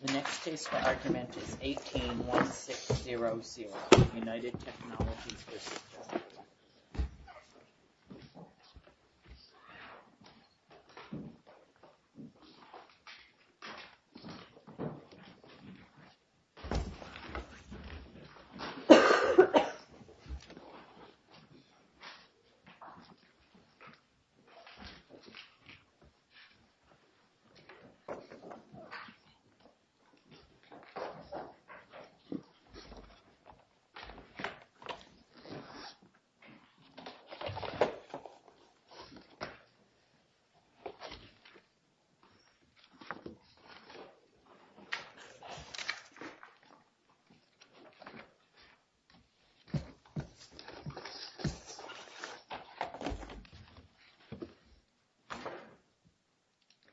The next case for argument is 18-1600, United Technologies v. General Electric Company.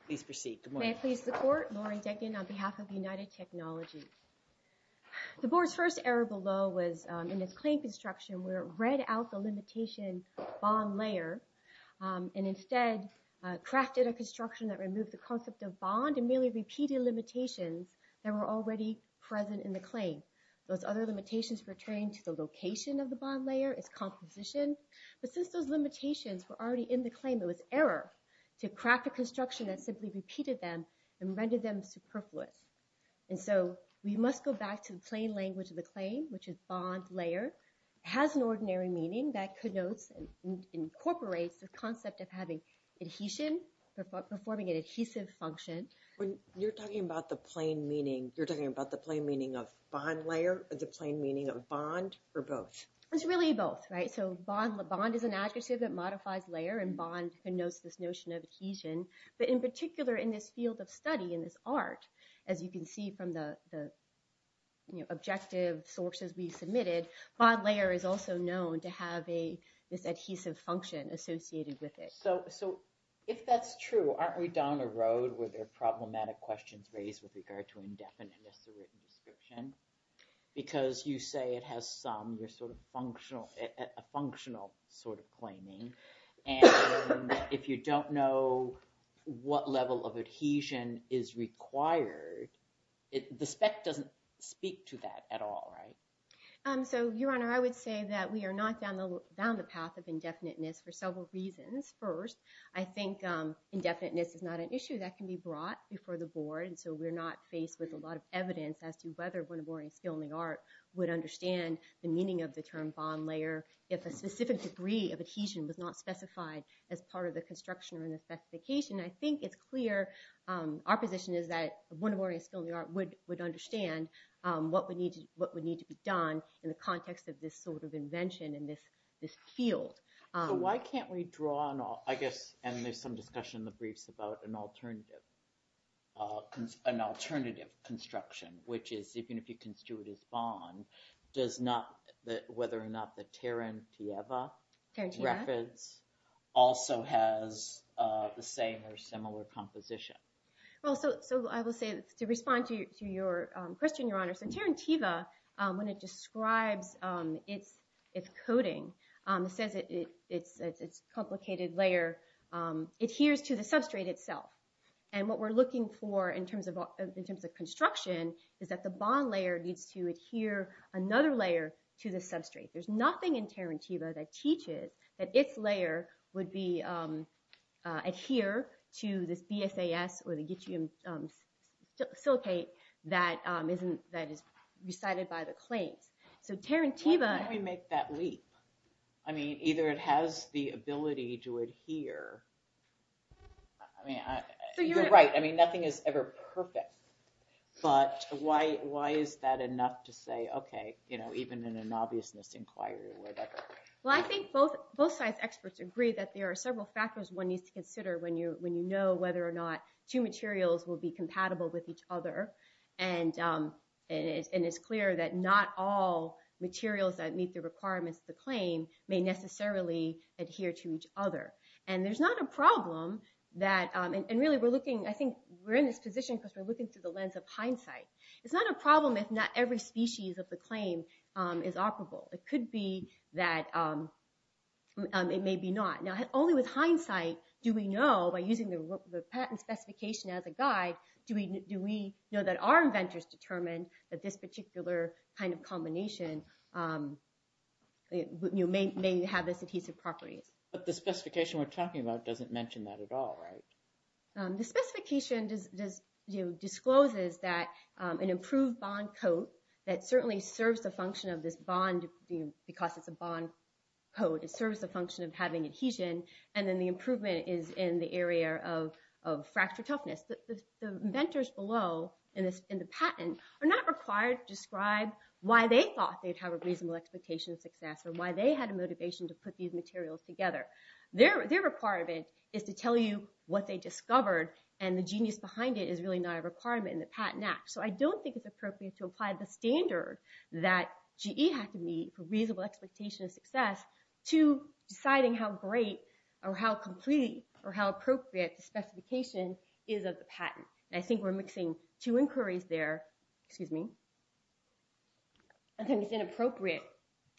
Please proceed. May I please the Court? Lawrence. Yes. I'm Degan on behalf of United Technologies. The board's first error below was in its claim construction where it read out the limitation bond layer and instead crafted a construction that removed the concept of bond and merely repeated limitations that were already present in the claim. Those other limitations pertain to the location of the bond layer, its composition, but since those limitations were already in the claim, it was error to craft a construction that simply repeated them and rendered them superfluous. And so we must go back to the plain language of the claim, which is bond layer has an ordinary meaning that connotes and incorporates the concept of having adhesion, performing an adhesive function. When you're talking about the plain meaning, you're talking about the plain meaning of bond layer or the plain meaning of bond or both? It's really both. Right? So bond is an adjective that modifies layer and bond connotes this notion of adhesion. But in particular, in this field of study, in this art, as you can see from the objective sources we submitted, bond layer is also known to have this adhesive function associated with it. So if that's true, aren't we down a road where there are problematic questions raised with regard to indefiniteness of written description? Because you say it has some, you're sort of functional, a functional sort of claiming. And if you don't know what level of adhesion is required, the spec doesn't speak to that at all, right? So, Your Honor, I would say that we are not down the path of indefiniteness for several reasons. First, I think indefiniteness is not an issue that can be brought before the board. And so we're not faced with a lot of evidence as to whether one of Warren's skill in the art would understand the meaning of the term bond layer if a specific degree of adhesion was not specified as part of the construction or in the specification. I think it's clear, our position is that one of Warren's skill in the art would understand what would need to be done in the context of this sort of invention in this field. So why can't we draw on all, I guess, and there's some discussion in the briefs about an alternative construction, which is, even if you construe it as bond, does not, whether or not the Tarantieva reference also has the same or similar composition. Well, so I will say, to respond to your question, Your Honor, so Tarantieva, when it describes its coating, it says its complicated layer adheres to the substrate itself. And what we're looking for in terms of construction is that the bond layer needs to adhere another layer to the substrate. There's nothing in Tarantieva that teaches that its layer would adhere to this BSAS or the Getium silicate that is recited by the claims. So Tarantieva... Why can't we make that leap? I mean, either it has the ability to adhere, I mean, you're right, I mean, nothing is ever perfect, but why is that enough to say, okay, you know, even in an obviousness inquiry or whatever. Well, I think both sides experts agree that there are several factors one needs to consider when you know whether or not two materials will be compatible with each other. And it's clear that not all materials that meet the requirements of the claim may necessarily adhere to each other. And there's not a problem that... And really, we're looking... I think we're in this position because we're looking through the lens of hindsight. It's not a problem if not every species of the claim is operable. It could be that it may be not. Now, only with hindsight do we know, by using the patent specification as a guide, do we know that our inventors determined that this particular kind of combination may have this adhesive properties. But the specification we're talking about doesn't mention that at all, right? The specification discloses that an improved bond coat that certainly serves the function of this bond, because it's a bond coat, it serves the function of having adhesion, and then the improvement is in the area of fracture toughness. The inventors below in the patent are not required to describe why they thought they'd have a reasonable expectation of success or why they had a motivation to put these materials together. Their requirement is to tell you what they discovered, and the genius behind it is really not a requirement in the Patent Act. So I don't think it's appropriate to apply the standard that GE had to meet for reasonable expectation of success to deciding how great or how complete or how appropriate the specification is of the patent. And I think we're mixing two inquiries there. Excuse me. I think it's inappropriate.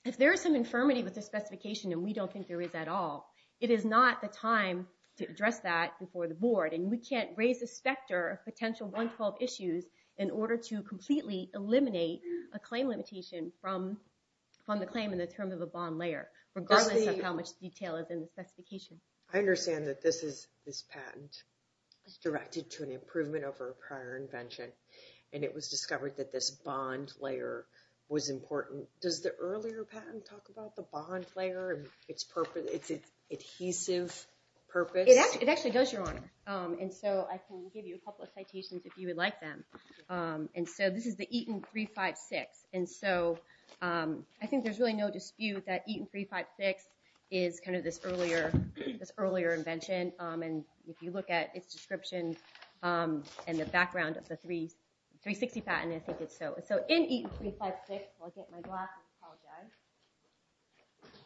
If there is some infirmity with the specification and we don't think there is at all, it is not the time to address that before the board, and we can't raise the specter of potential 112 issues in order to completely eliminate a claim limitation from the claim in the terms of a bond layer, regardless of how much detail is in the specification. I understand that this patent is directed to an improvement over a prior invention, and it was discovered that this bond layer was important. Does the earlier patent talk about the bond layer and its adhesive purpose? It actually does, Your Honor, and so I can give you a couple of citations if you would like them. And so this is the Eaton 356, and so I think there's really no dispute that Eaton 356 is kind of this earlier invention. And if you look at its description and the background of the 360 patent, I think it's so. So in Eaton 356, if I can get my glasses, I apologize.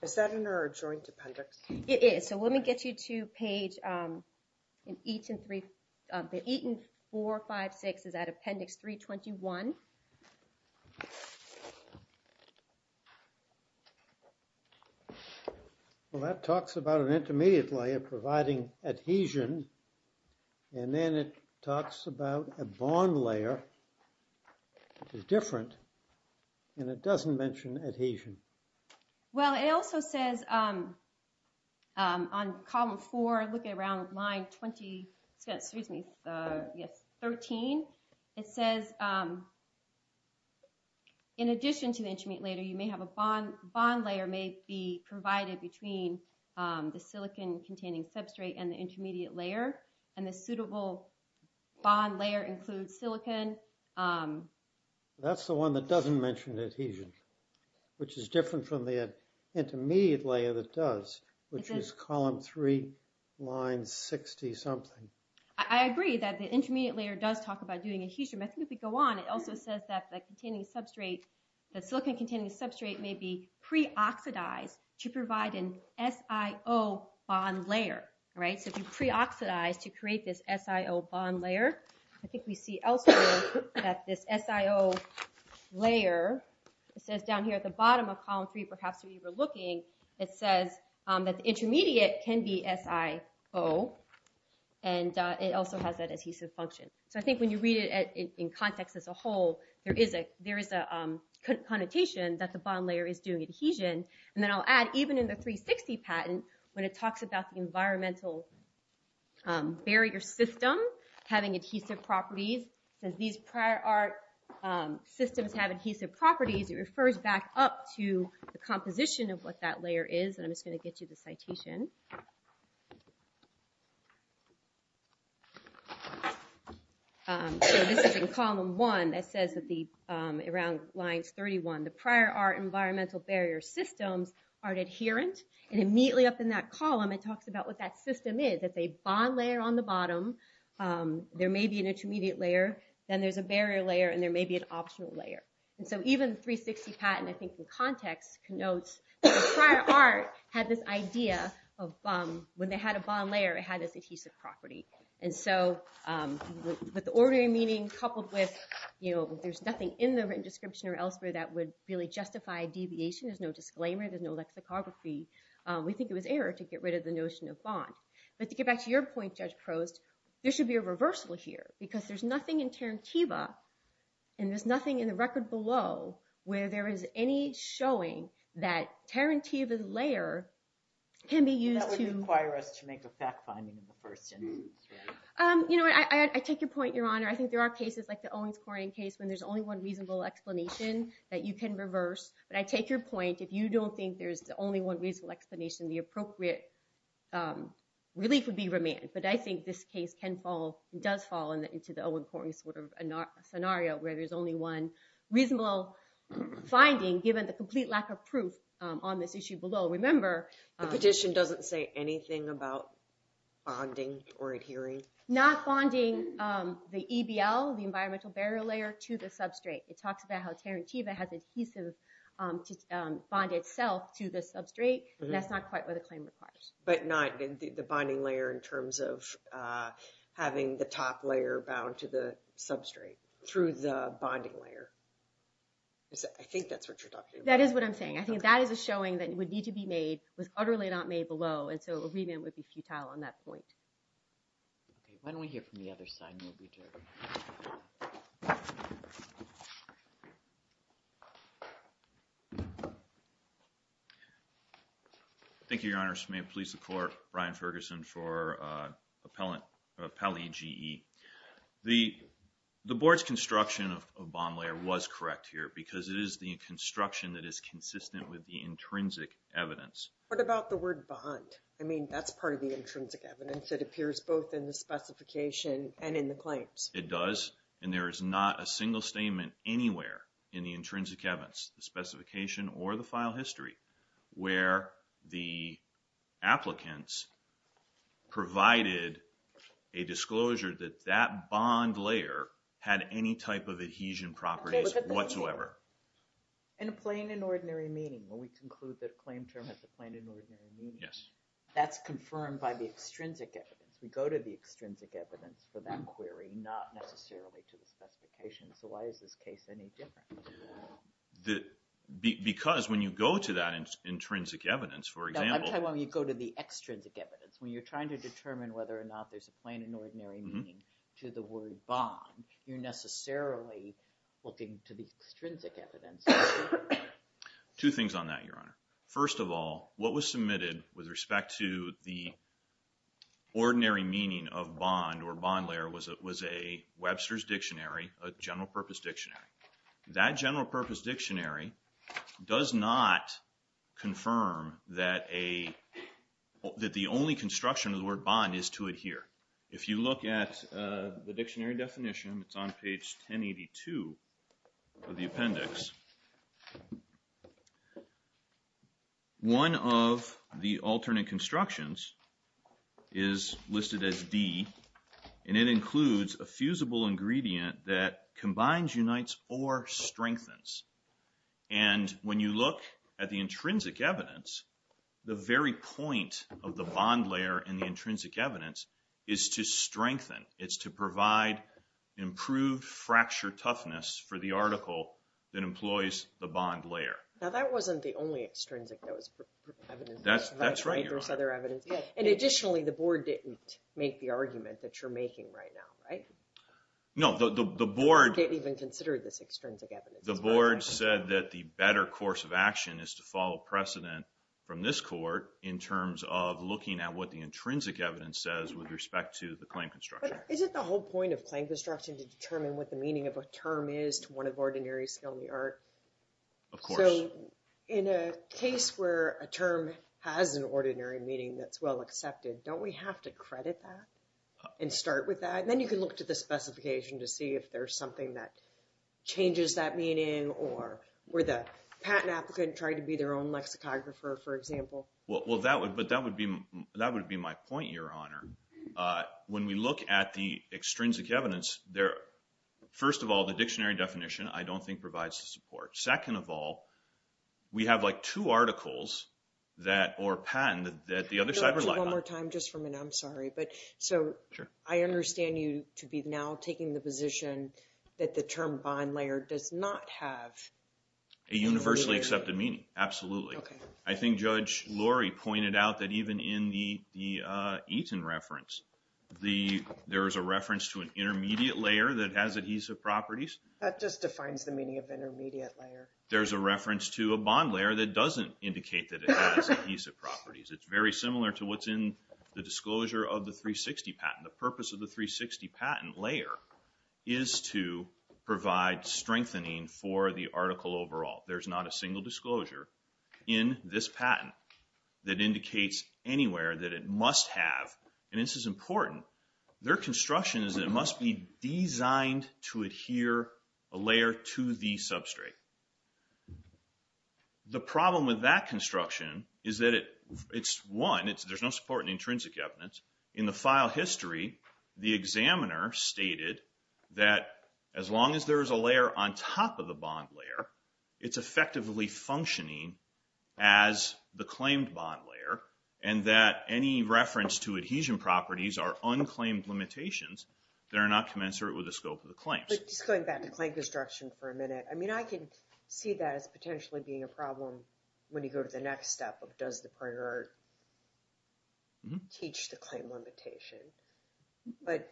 Is that in our joint appendix? It is. All right, so let me get you to page in Eaton 356. The Eaton 456 is at appendix 321. Well, that talks about an intermediate layer providing adhesion, and then it talks about a bond layer, which is different, and it doesn't mention adhesion. Well, it also says on column 4, looking around line 20, excuse me, yes, 13, it says in addition to the intermediate layer, you may have a bond. Bond layer may be provided between the silicon-containing substrate and the intermediate layer, and the suitable bond layer includes silicon. That's the one that doesn't mention adhesion, which is different from the intermediate layer that does, which is column 3, line 60-something. I agree that the intermediate layer does talk about doing adhesion, but I think if we go on, it also says that the silicon-containing substrate may be pre-oxidized to provide an SIO bond layer, right? So if you pre-oxidize to create this SIO bond layer, I think we see elsewhere that this SIO layer, it says down here at the bottom of column 3, perhaps when you were looking, it says that the intermediate can be SIO, and it also has that adhesive function. So I think when you read it in context as a whole, there is a connotation that the bond layer is doing adhesion, and then I'll add, even in the 360 patent, when it talks about the environmental barrier system having adhesive properties, it says these prior art systems have adhesive properties, it refers back up to the composition of what that layer is, and I'm just going to get you the citation. So this is in column 1 that says around lines 31, the prior art environmental barrier systems are adherent, and immediately up in that column, it talks about what that system is. It's a bond layer on the bottom, there may be an intermediate layer, then there's a barrier layer, and there may be an optional layer. And so even the 360 patent, I think in context, connotes that the prior art had this idea of when they had a bond layer, it had this adhesive property. And so with the ordinary meaning coupled with, you know, there's nothing in the written abbreviation, there's no disclaimer, there's no lexicography, we think it was error to get rid of the notion of bond. But to get back to your point, Judge Prost, there should be a reversal here, because there's nothing in Tarantiva, and there's nothing in the record below, where there is any showing that Tarantiva's layer can be used to... That would require us to make a fact-finding in the first instance. You know, I take your point, Your Honor. I think there are cases, like the Owings-Coryan case, when there's only one reasonable explanation that you can reverse. But I take your point, if you don't think there's only one reasonable explanation, the appropriate relief would be remand. But I think this case can fall, does fall into the Owings-Coryan sort of scenario, where there's only one reasonable finding, given the complete lack of proof on this issue below. Remember... The petition doesn't say anything about bonding or adhering? Not bonding the EBL, the environmental barrier layer, to the substrate. It talks about how Tarantiva has adhesive to bond itself to the substrate, and that's not quite what the claim requires. But not the bonding layer, in terms of having the top layer bound to the substrate, through the bonding layer. I think that's what you're talking about. That is what I'm saying. I think that is a showing that would need to be made, was utterly not made below, and so a remand would be futile on that point. Okay, why don't we hear from the other side, and then we'll return. Thank you, Your Honors. May it please the Court, Brian Ferguson for Appellate GE. The Board's construction of a bond layer was correct here, because it is the construction that is consistent with the intrinsic evidence. What about the word bond? I mean, that's part of the intrinsic evidence. It appears both in the specification and in the claims. It does, and there is not a single statement anywhere in the intrinsic evidence, the specification or the file history, where the applicants provided a disclosure that that bond layer had any type of adhesion properties whatsoever. In a plain and ordinary meeting, when we conclude that a claim term has a plain and ordinary meaning, that's confirmed by the extrinsic evidence. We go to the extrinsic evidence for that query, not necessarily to the specification. So why is this case any different? Because when you go to that intrinsic evidence, for example... No, I'm talking about when you go to the extrinsic evidence, when you're trying to determine whether or not there's a plain and ordinary meaning to the word bond, you're necessarily looking to the extrinsic evidence. Two things on that, Your Honor. First of all, what was submitted with respect to the ordinary meaning of bond or bond layer was a Webster's Dictionary, a general purpose dictionary. That general purpose dictionary does not confirm that the only construction of the word bond is to adhere. If you look at the dictionary definition, it's on page 1082 of the appendix. One of the alternate constructions is listed as D, and it includes a fusible ingredient that combines, unites, or strengthens. And when you look at the intrinsic evidence, the very point of the bond layer in the intrinsic evidence is to strengthen. It's to provide improved fracture toughness for the article that employs the bond layer. Now, that wasn't the only extrinsic that was evidence. That's right, Your Honor. There was other evidence. And additionally, the board didn't make the argument that you're making right now, right? No, the board... They didn't even consider this extrinsic evidence. The board said that the better course of action is to follow precedent from this court in terms of looking at what the intrinsic evidence says with respect to the claim construction. But isn't the whole point of claim construction to determine what the meaning of a term is to one of ordinary skill in the art? Of course. So, in a case where a term has an ordinary meaning that's well accepted, don't we have to credit that and start with that? And then you can look to the specification to see if there's something that changes that meaning or where the patent applicant tried to be their own lexicographer, for example. Well, that would be my point, Your Honor. When we look at the extrinsic evidence, first of all, the dictionary definition I don't think provides the support. Second of all, we have, like, two articles that...or patent that the other side... One more time, just for a minute. I'm sorry. But... Sure. So, I understand you to be now taking the position that the term bond layer does not have... A universally accepted meaning. Absolutely. Okay. I think Judge Lori pointed out that even in the Eaton reference, there is a reference to an intermediate layer that has adhesive properties. That just defines the meaning of intermediate layer. There's a reference to a bond layer that doesn't indicate that it has adhesive properties. It's very similar to what's in the disclosure of the 360 patent. The purpose of the 360 patent layer is to provide strengthening for the article overall. There's not a single disclosure in this patent that indicates anywhere that it must have... a layer to the substrate. The problem with that construction is that it's... One, there's no support in intrinsic evidence. In the file history, the examiner stated that as long as there is a layer on top of the bond layer, it's effectively functioning as the claimed bond layer and that any reference to adhesion properties are unclaimed limitations that are not commensurate with the scope of the claim construction for a minute. I mean, I can see that as potentially being a problem when you go to the next step of does the printer teach the claim limitation.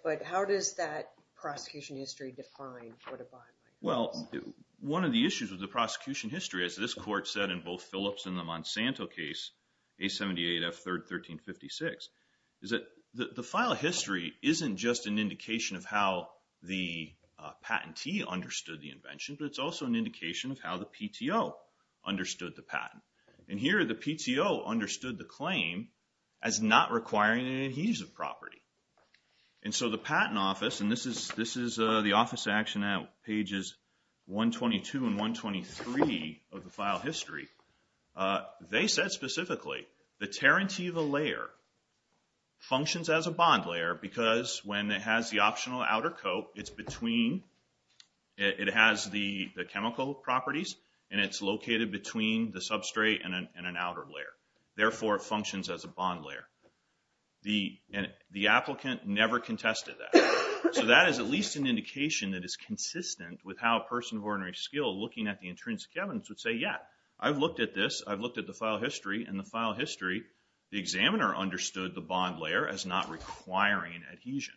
But how does that prosecution history define what a bond layer is? Well, one of the issues with the prosecution history, as this court said in both Phillips and the Monsanto case, A78F3rd 1356, is that the file history isn't just an indication of how the patentee understood the invention, but it's also an indication of how the PTO understood the patent. And here, the PTO understood the claim as not requiring an adhesive property. And so the Patent Office, and this is the Office of Action at pages 122 and 123 of the file history, they said specifically the Tarantiva layer functions as a bond layer because when it has the optional outer coat, it's between, it has the chemical properties and it's located between the substrate and an outer layer. Therefore, it functions as a bond layer. And the applicant never contested that. So that is at least an indication that is consistent with how a person of ordinary skill looking at the intrinsic evidence would say, yeah, I've looked at this. I've looked at the file history. In the file history, the examiner understood the bond layer as not requiring adhesion.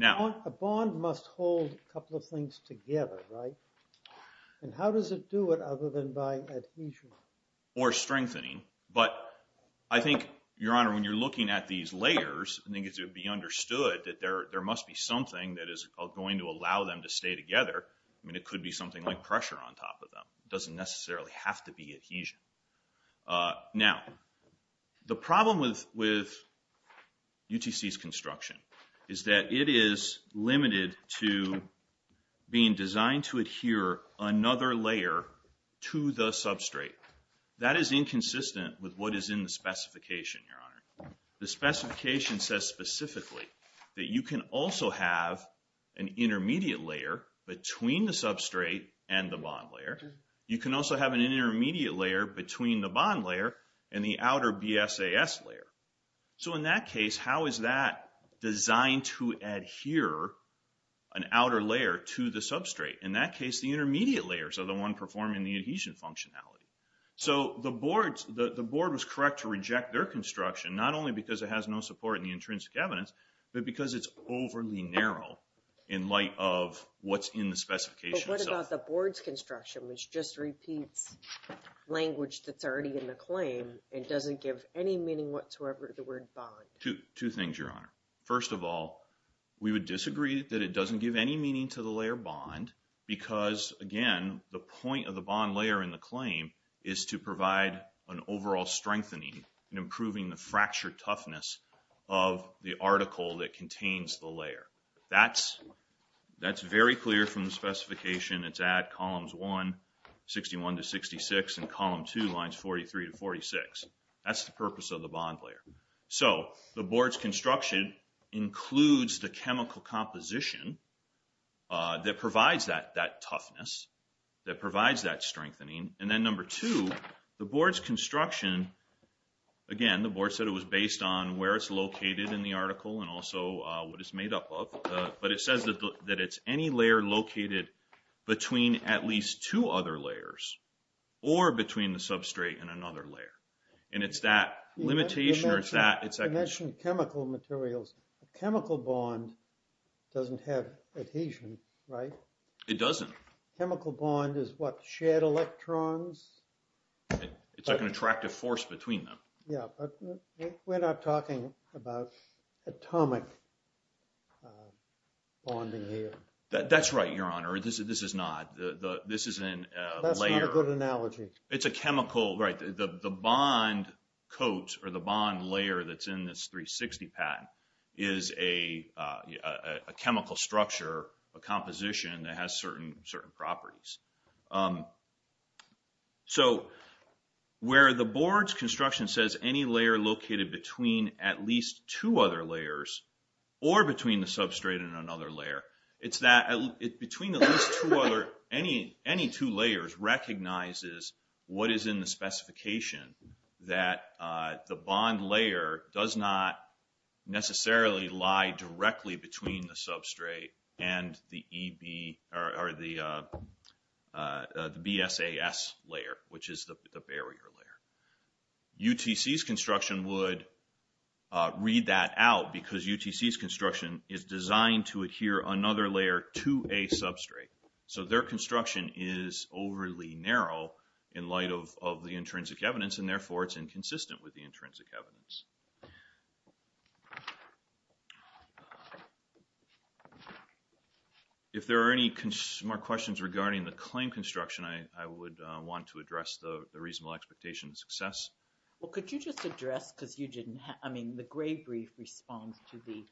A bond must hold a couple of things together, right? And how does it do it other than by adhesion? Or strengthening. But I think, Your Honor, when you're looking at these layers, I think it should be understood that there must be something that is going to allow them to stay together. I mean, it could be something like pressure on top of them. It doesn't necessarily have to be adhesion. Now, the problem with UTC's construction is that it is limited to being designed to adhere another layer to the substrate. That is inconsistent with what is in the specification, Your Honor. The specification says specifically that you can also have an intermediate layer between the substrate and the bond layer. You can also have an intermediate layer between the bond layer and the outer BSAS layer. So, in that case, how is that designed to adhere an outer layer to the substrate? In that case, the intermediate layers are the one performing the adhesion functionality. So, the board was correct to reject their construction, not only because it has no support in the intrinsic evidence, but because it's overly narrow in light of what's in the specification. But what about the board's construction, which just repeats language that's already in the claim and doesn't give any meaning whatsoever to the word bond? Two things, Your Honor. First of all, we would disagree that it doesn't give any meaning to the layer bond because, again, the point of the bond layer in the claim is to provide an overall strengthening in improving the fracture toughness of the article that contains the layer. That's very clear from the specification. It's at columns 1, 61 to 66, and column 2, lines 43 to 46. That's the purpose of the bond layer. So, the board's construction includes the chemical composition that provides that toughness, that provides that strengthening. And then number two, the board's construction, again, the board said it was based on where it's located in the article and also what it's made up of. But it says that it's any layer located between at least two other layers or between the substrate and another layer. And it's that limitation or it's that… You mentioned chemical materials. A chemical bond doesn't have adhesion, right? It doesn't. A chemical bond is what, shared electrons? It's like an attractive force between them. Yeah, but we're not talking about atomic bonding here. That's right, Your Honor. This is not. This is a layer. That's not a good analogy. It's a chemical. Right. The bond coat or the bond layer that's in this 360 patent is a chemical structure, a composition that has certain properties. So where the board's construction says any layer located between at least two other layers or between the substrate and another layer, it's that between at least two other, any two layers recognizes what is in the specification, that the bond layer does not necessarily lie directly between the substrate and the BSAS layer, which is the barrier layer. UTC's construction would read that out because UTC's construction is designed to adhere another layer to a substrate. So their construction is overly narrow in light of the intrinsic evidence, and therefore it's inconsistent with the intrinsic evidence. If there are any more questions regarding the claim construction, I would want to address the reasonable expectation of success. Well, could you just address, because you didn't have, I mean, the Gray brief responds to the,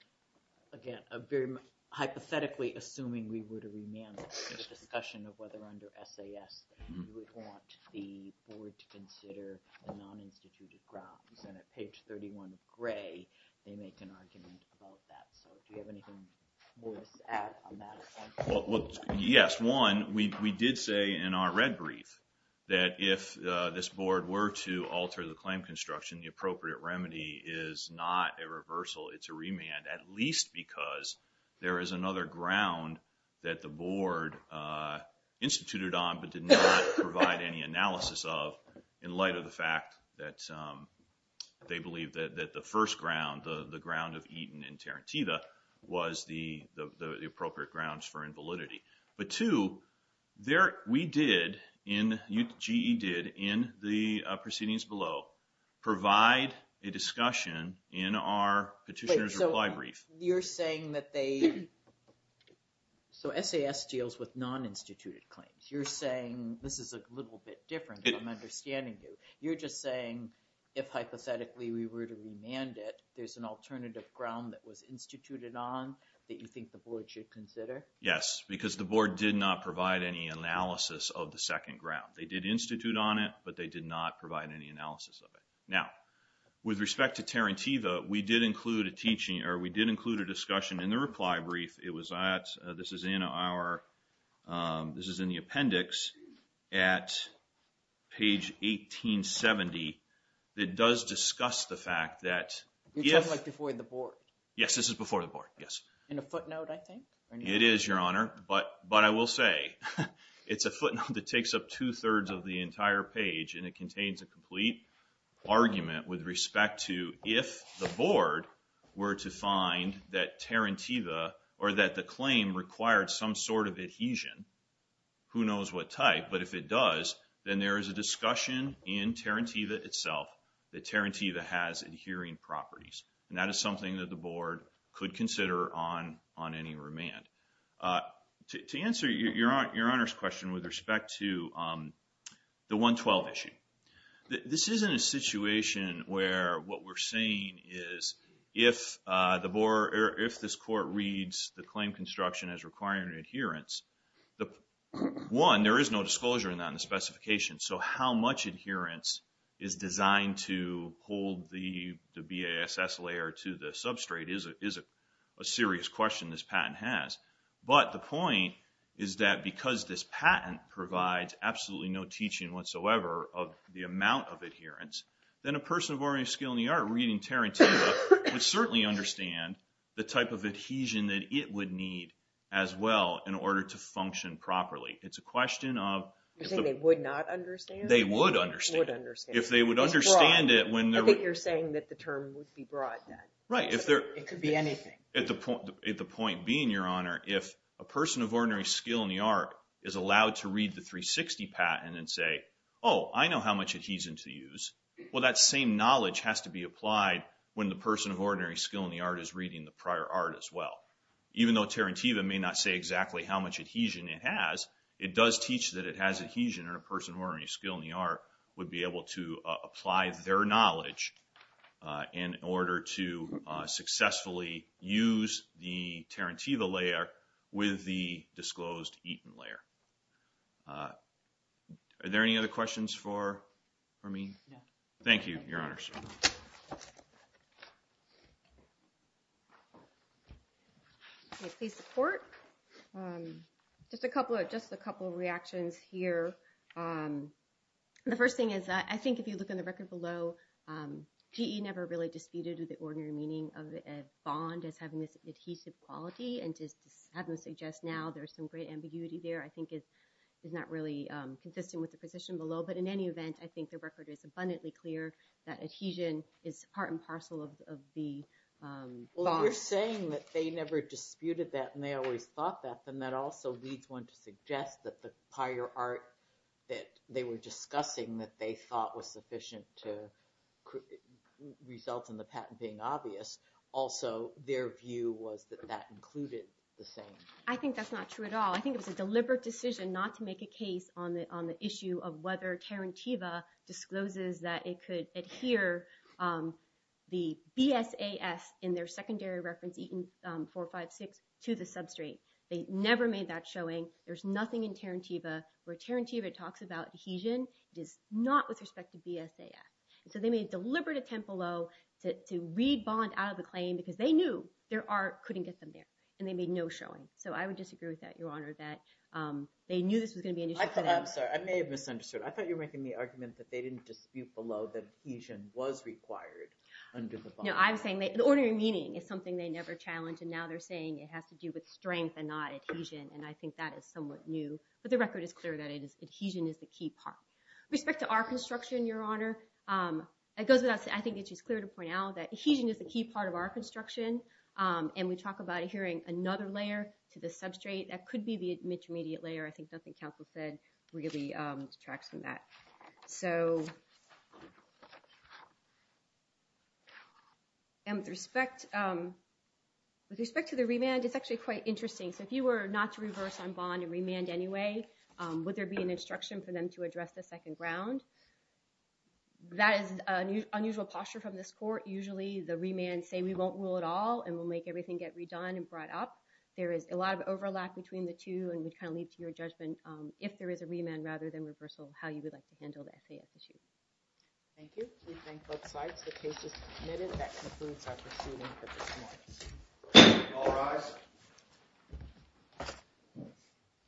again, a very hypothetically assuming we were to remand the discussion of whether under SAS you would want the board to consider the non-instituted grounds. And at page 31 of Gray, they make an argument about that. So do you have anything more to add on that? Well, yes. One, we did say in our red brief that if this board were to alter the claim construction, the appropriate remedy is not a reversal, it's a remand, at least because there is another ground that the board instituted on but did not provide any analysis of in light of the fact that they believe that the first ground, the ground of Eaton and Tarantino, was the appropriate grounds for invalidity. But two, we did, GE did, in the proceedings below, provide a discussion in our petitioner's reply brief. You're saying that they, so SAS deals with non-instituted claims. You're saying, this is a little bit different, I'm understanding you. You're just saying if hypothetically we were to remand it, there's an alternative ground that was instituted on that you think the board should consider? Yes, because the board did not provide any analysis of the second ground. They did institute on it, but they did not provide any analysis of it. Now, with respect to Tarantino, we did include a teaching, or we did include a discussion in the reply brief. It was at, this is in our, this is in the appendix at page 1870. It does discuss the fact that, yes. You're talking like before the board. Yes, this is before the board, yes. In a footnote, I think? It is, Your Honor, but I will say, it's a footnote that takes up two-thirds of the entire page, and it contains a complete argument with respect to if the board were to find that Tarantiva, or that the claim required some sort of adhesion, who knows what type, but if it does, then there is a discussion in Tarantiva itself that Tarantiva has adhering properties, and that is something that the board could consider on any remand. To answer Your Honor's question with respect to the 112 issue, this isn't a situation where what we're saying is, if this court reads the claim construction as requiring an adherence, one, there is no disclosure in that in the specification, so how much adherence is designed to hold the BASS layer to the substrate is a serious question this patent has. But the point is that because this patent provides absolutely no teaching whatsoever of the amount of adherence, then a person of ordinary skill in the art reading Tarantiva would certainly understand the type of adhesion that it would need as well in order to function properly. It's a question of... You think they would not understand? They would understand. They would understand. If they would understand it when they're... I think you're saying that the term would be broad then. Right. It could be anything. At the point being, Your Honor, if a person of ordinary skill in the art is allowed to read the 360 patent and say, oh, I know how much adhesion to use, well, that same knowledge has to be applied when the person of ordinary skill in the art is reading the prior art as well. Even though Tarantiva may not say exactly how much adhesion it has, it does teach that it has adhesion and a person of ordinary skill in the art would be able to apply their knowledge in order to successfully use the Tarantiva layer with the disclosed Eaton layer. Are there any other questions for me? No. Thank you, Your Honors. Please support. Just a couple of reactions here. The first thing is I think if you look in the record below, GE never really disputed the ordinary meaning of a bond as having this adhesive quality and just having to suggest now there's some great ambiguity there I think is not really consistent with the position below. But in any event, I think the record is abundantly clear that adhesion is part and parcel of the bond. Well, if you're saying that they never disputed that and they always thought that, then that also leads one to suggest that the prior art that they were discussing that they thought was sufficient to result in the patent being obvious, also their view was that that included the same. I think that's not true at all. I think it was a deliberate decision not to make a case on the issue of whether Tarantiva discloses that it could adhere the BSAS in their secondary reference Eaton 456 to the substrate. They never made that showing. There's nothing in Tarantiva where Tarantiva talks about adhesion. It is not with respect to BSAS. So they made a deliberate attempt below to read bond out of the claim because they knew their art couldn't get them there, and they made no showing. So I would disagree with that, Your Honor, that they knew this was going to be an issue. I'm sorry. I may have misunderstood. I thought you were making the argument that they didn't dispute below that adhesion was required under the bond. No, I'm saying the ordinary meaning is something they never challenge, and now they're saying it has to do with strength and not adhesion, and I think that is somewhat new. But the record is clear that adhesion is the key part. With respect to our construction, Your Honor, it goes without saying I think that she's clear to point out that adhesion is the key part of our construction, and we talk about adhering another layer to the substrate. That could be the intermediate layer. I think nothing counsel said really detracts from that. And with respect to the remand, it's actually quite interesting. So if you were not to reverse on bond and remand anyway, would there be an opportunity to address the second ground? That is an unusual posture from this court. Usually the remands say we won't rule at all and we'll make everything get redone and brought up. There is a lot of overlap between the two and would kind of lead to your judgment if there is a remand rather than reversal, how you would like to handle the FAS issue. Thank you. We thank both sides. The case is submitted. That concludes our proceeding for this morning. All rise.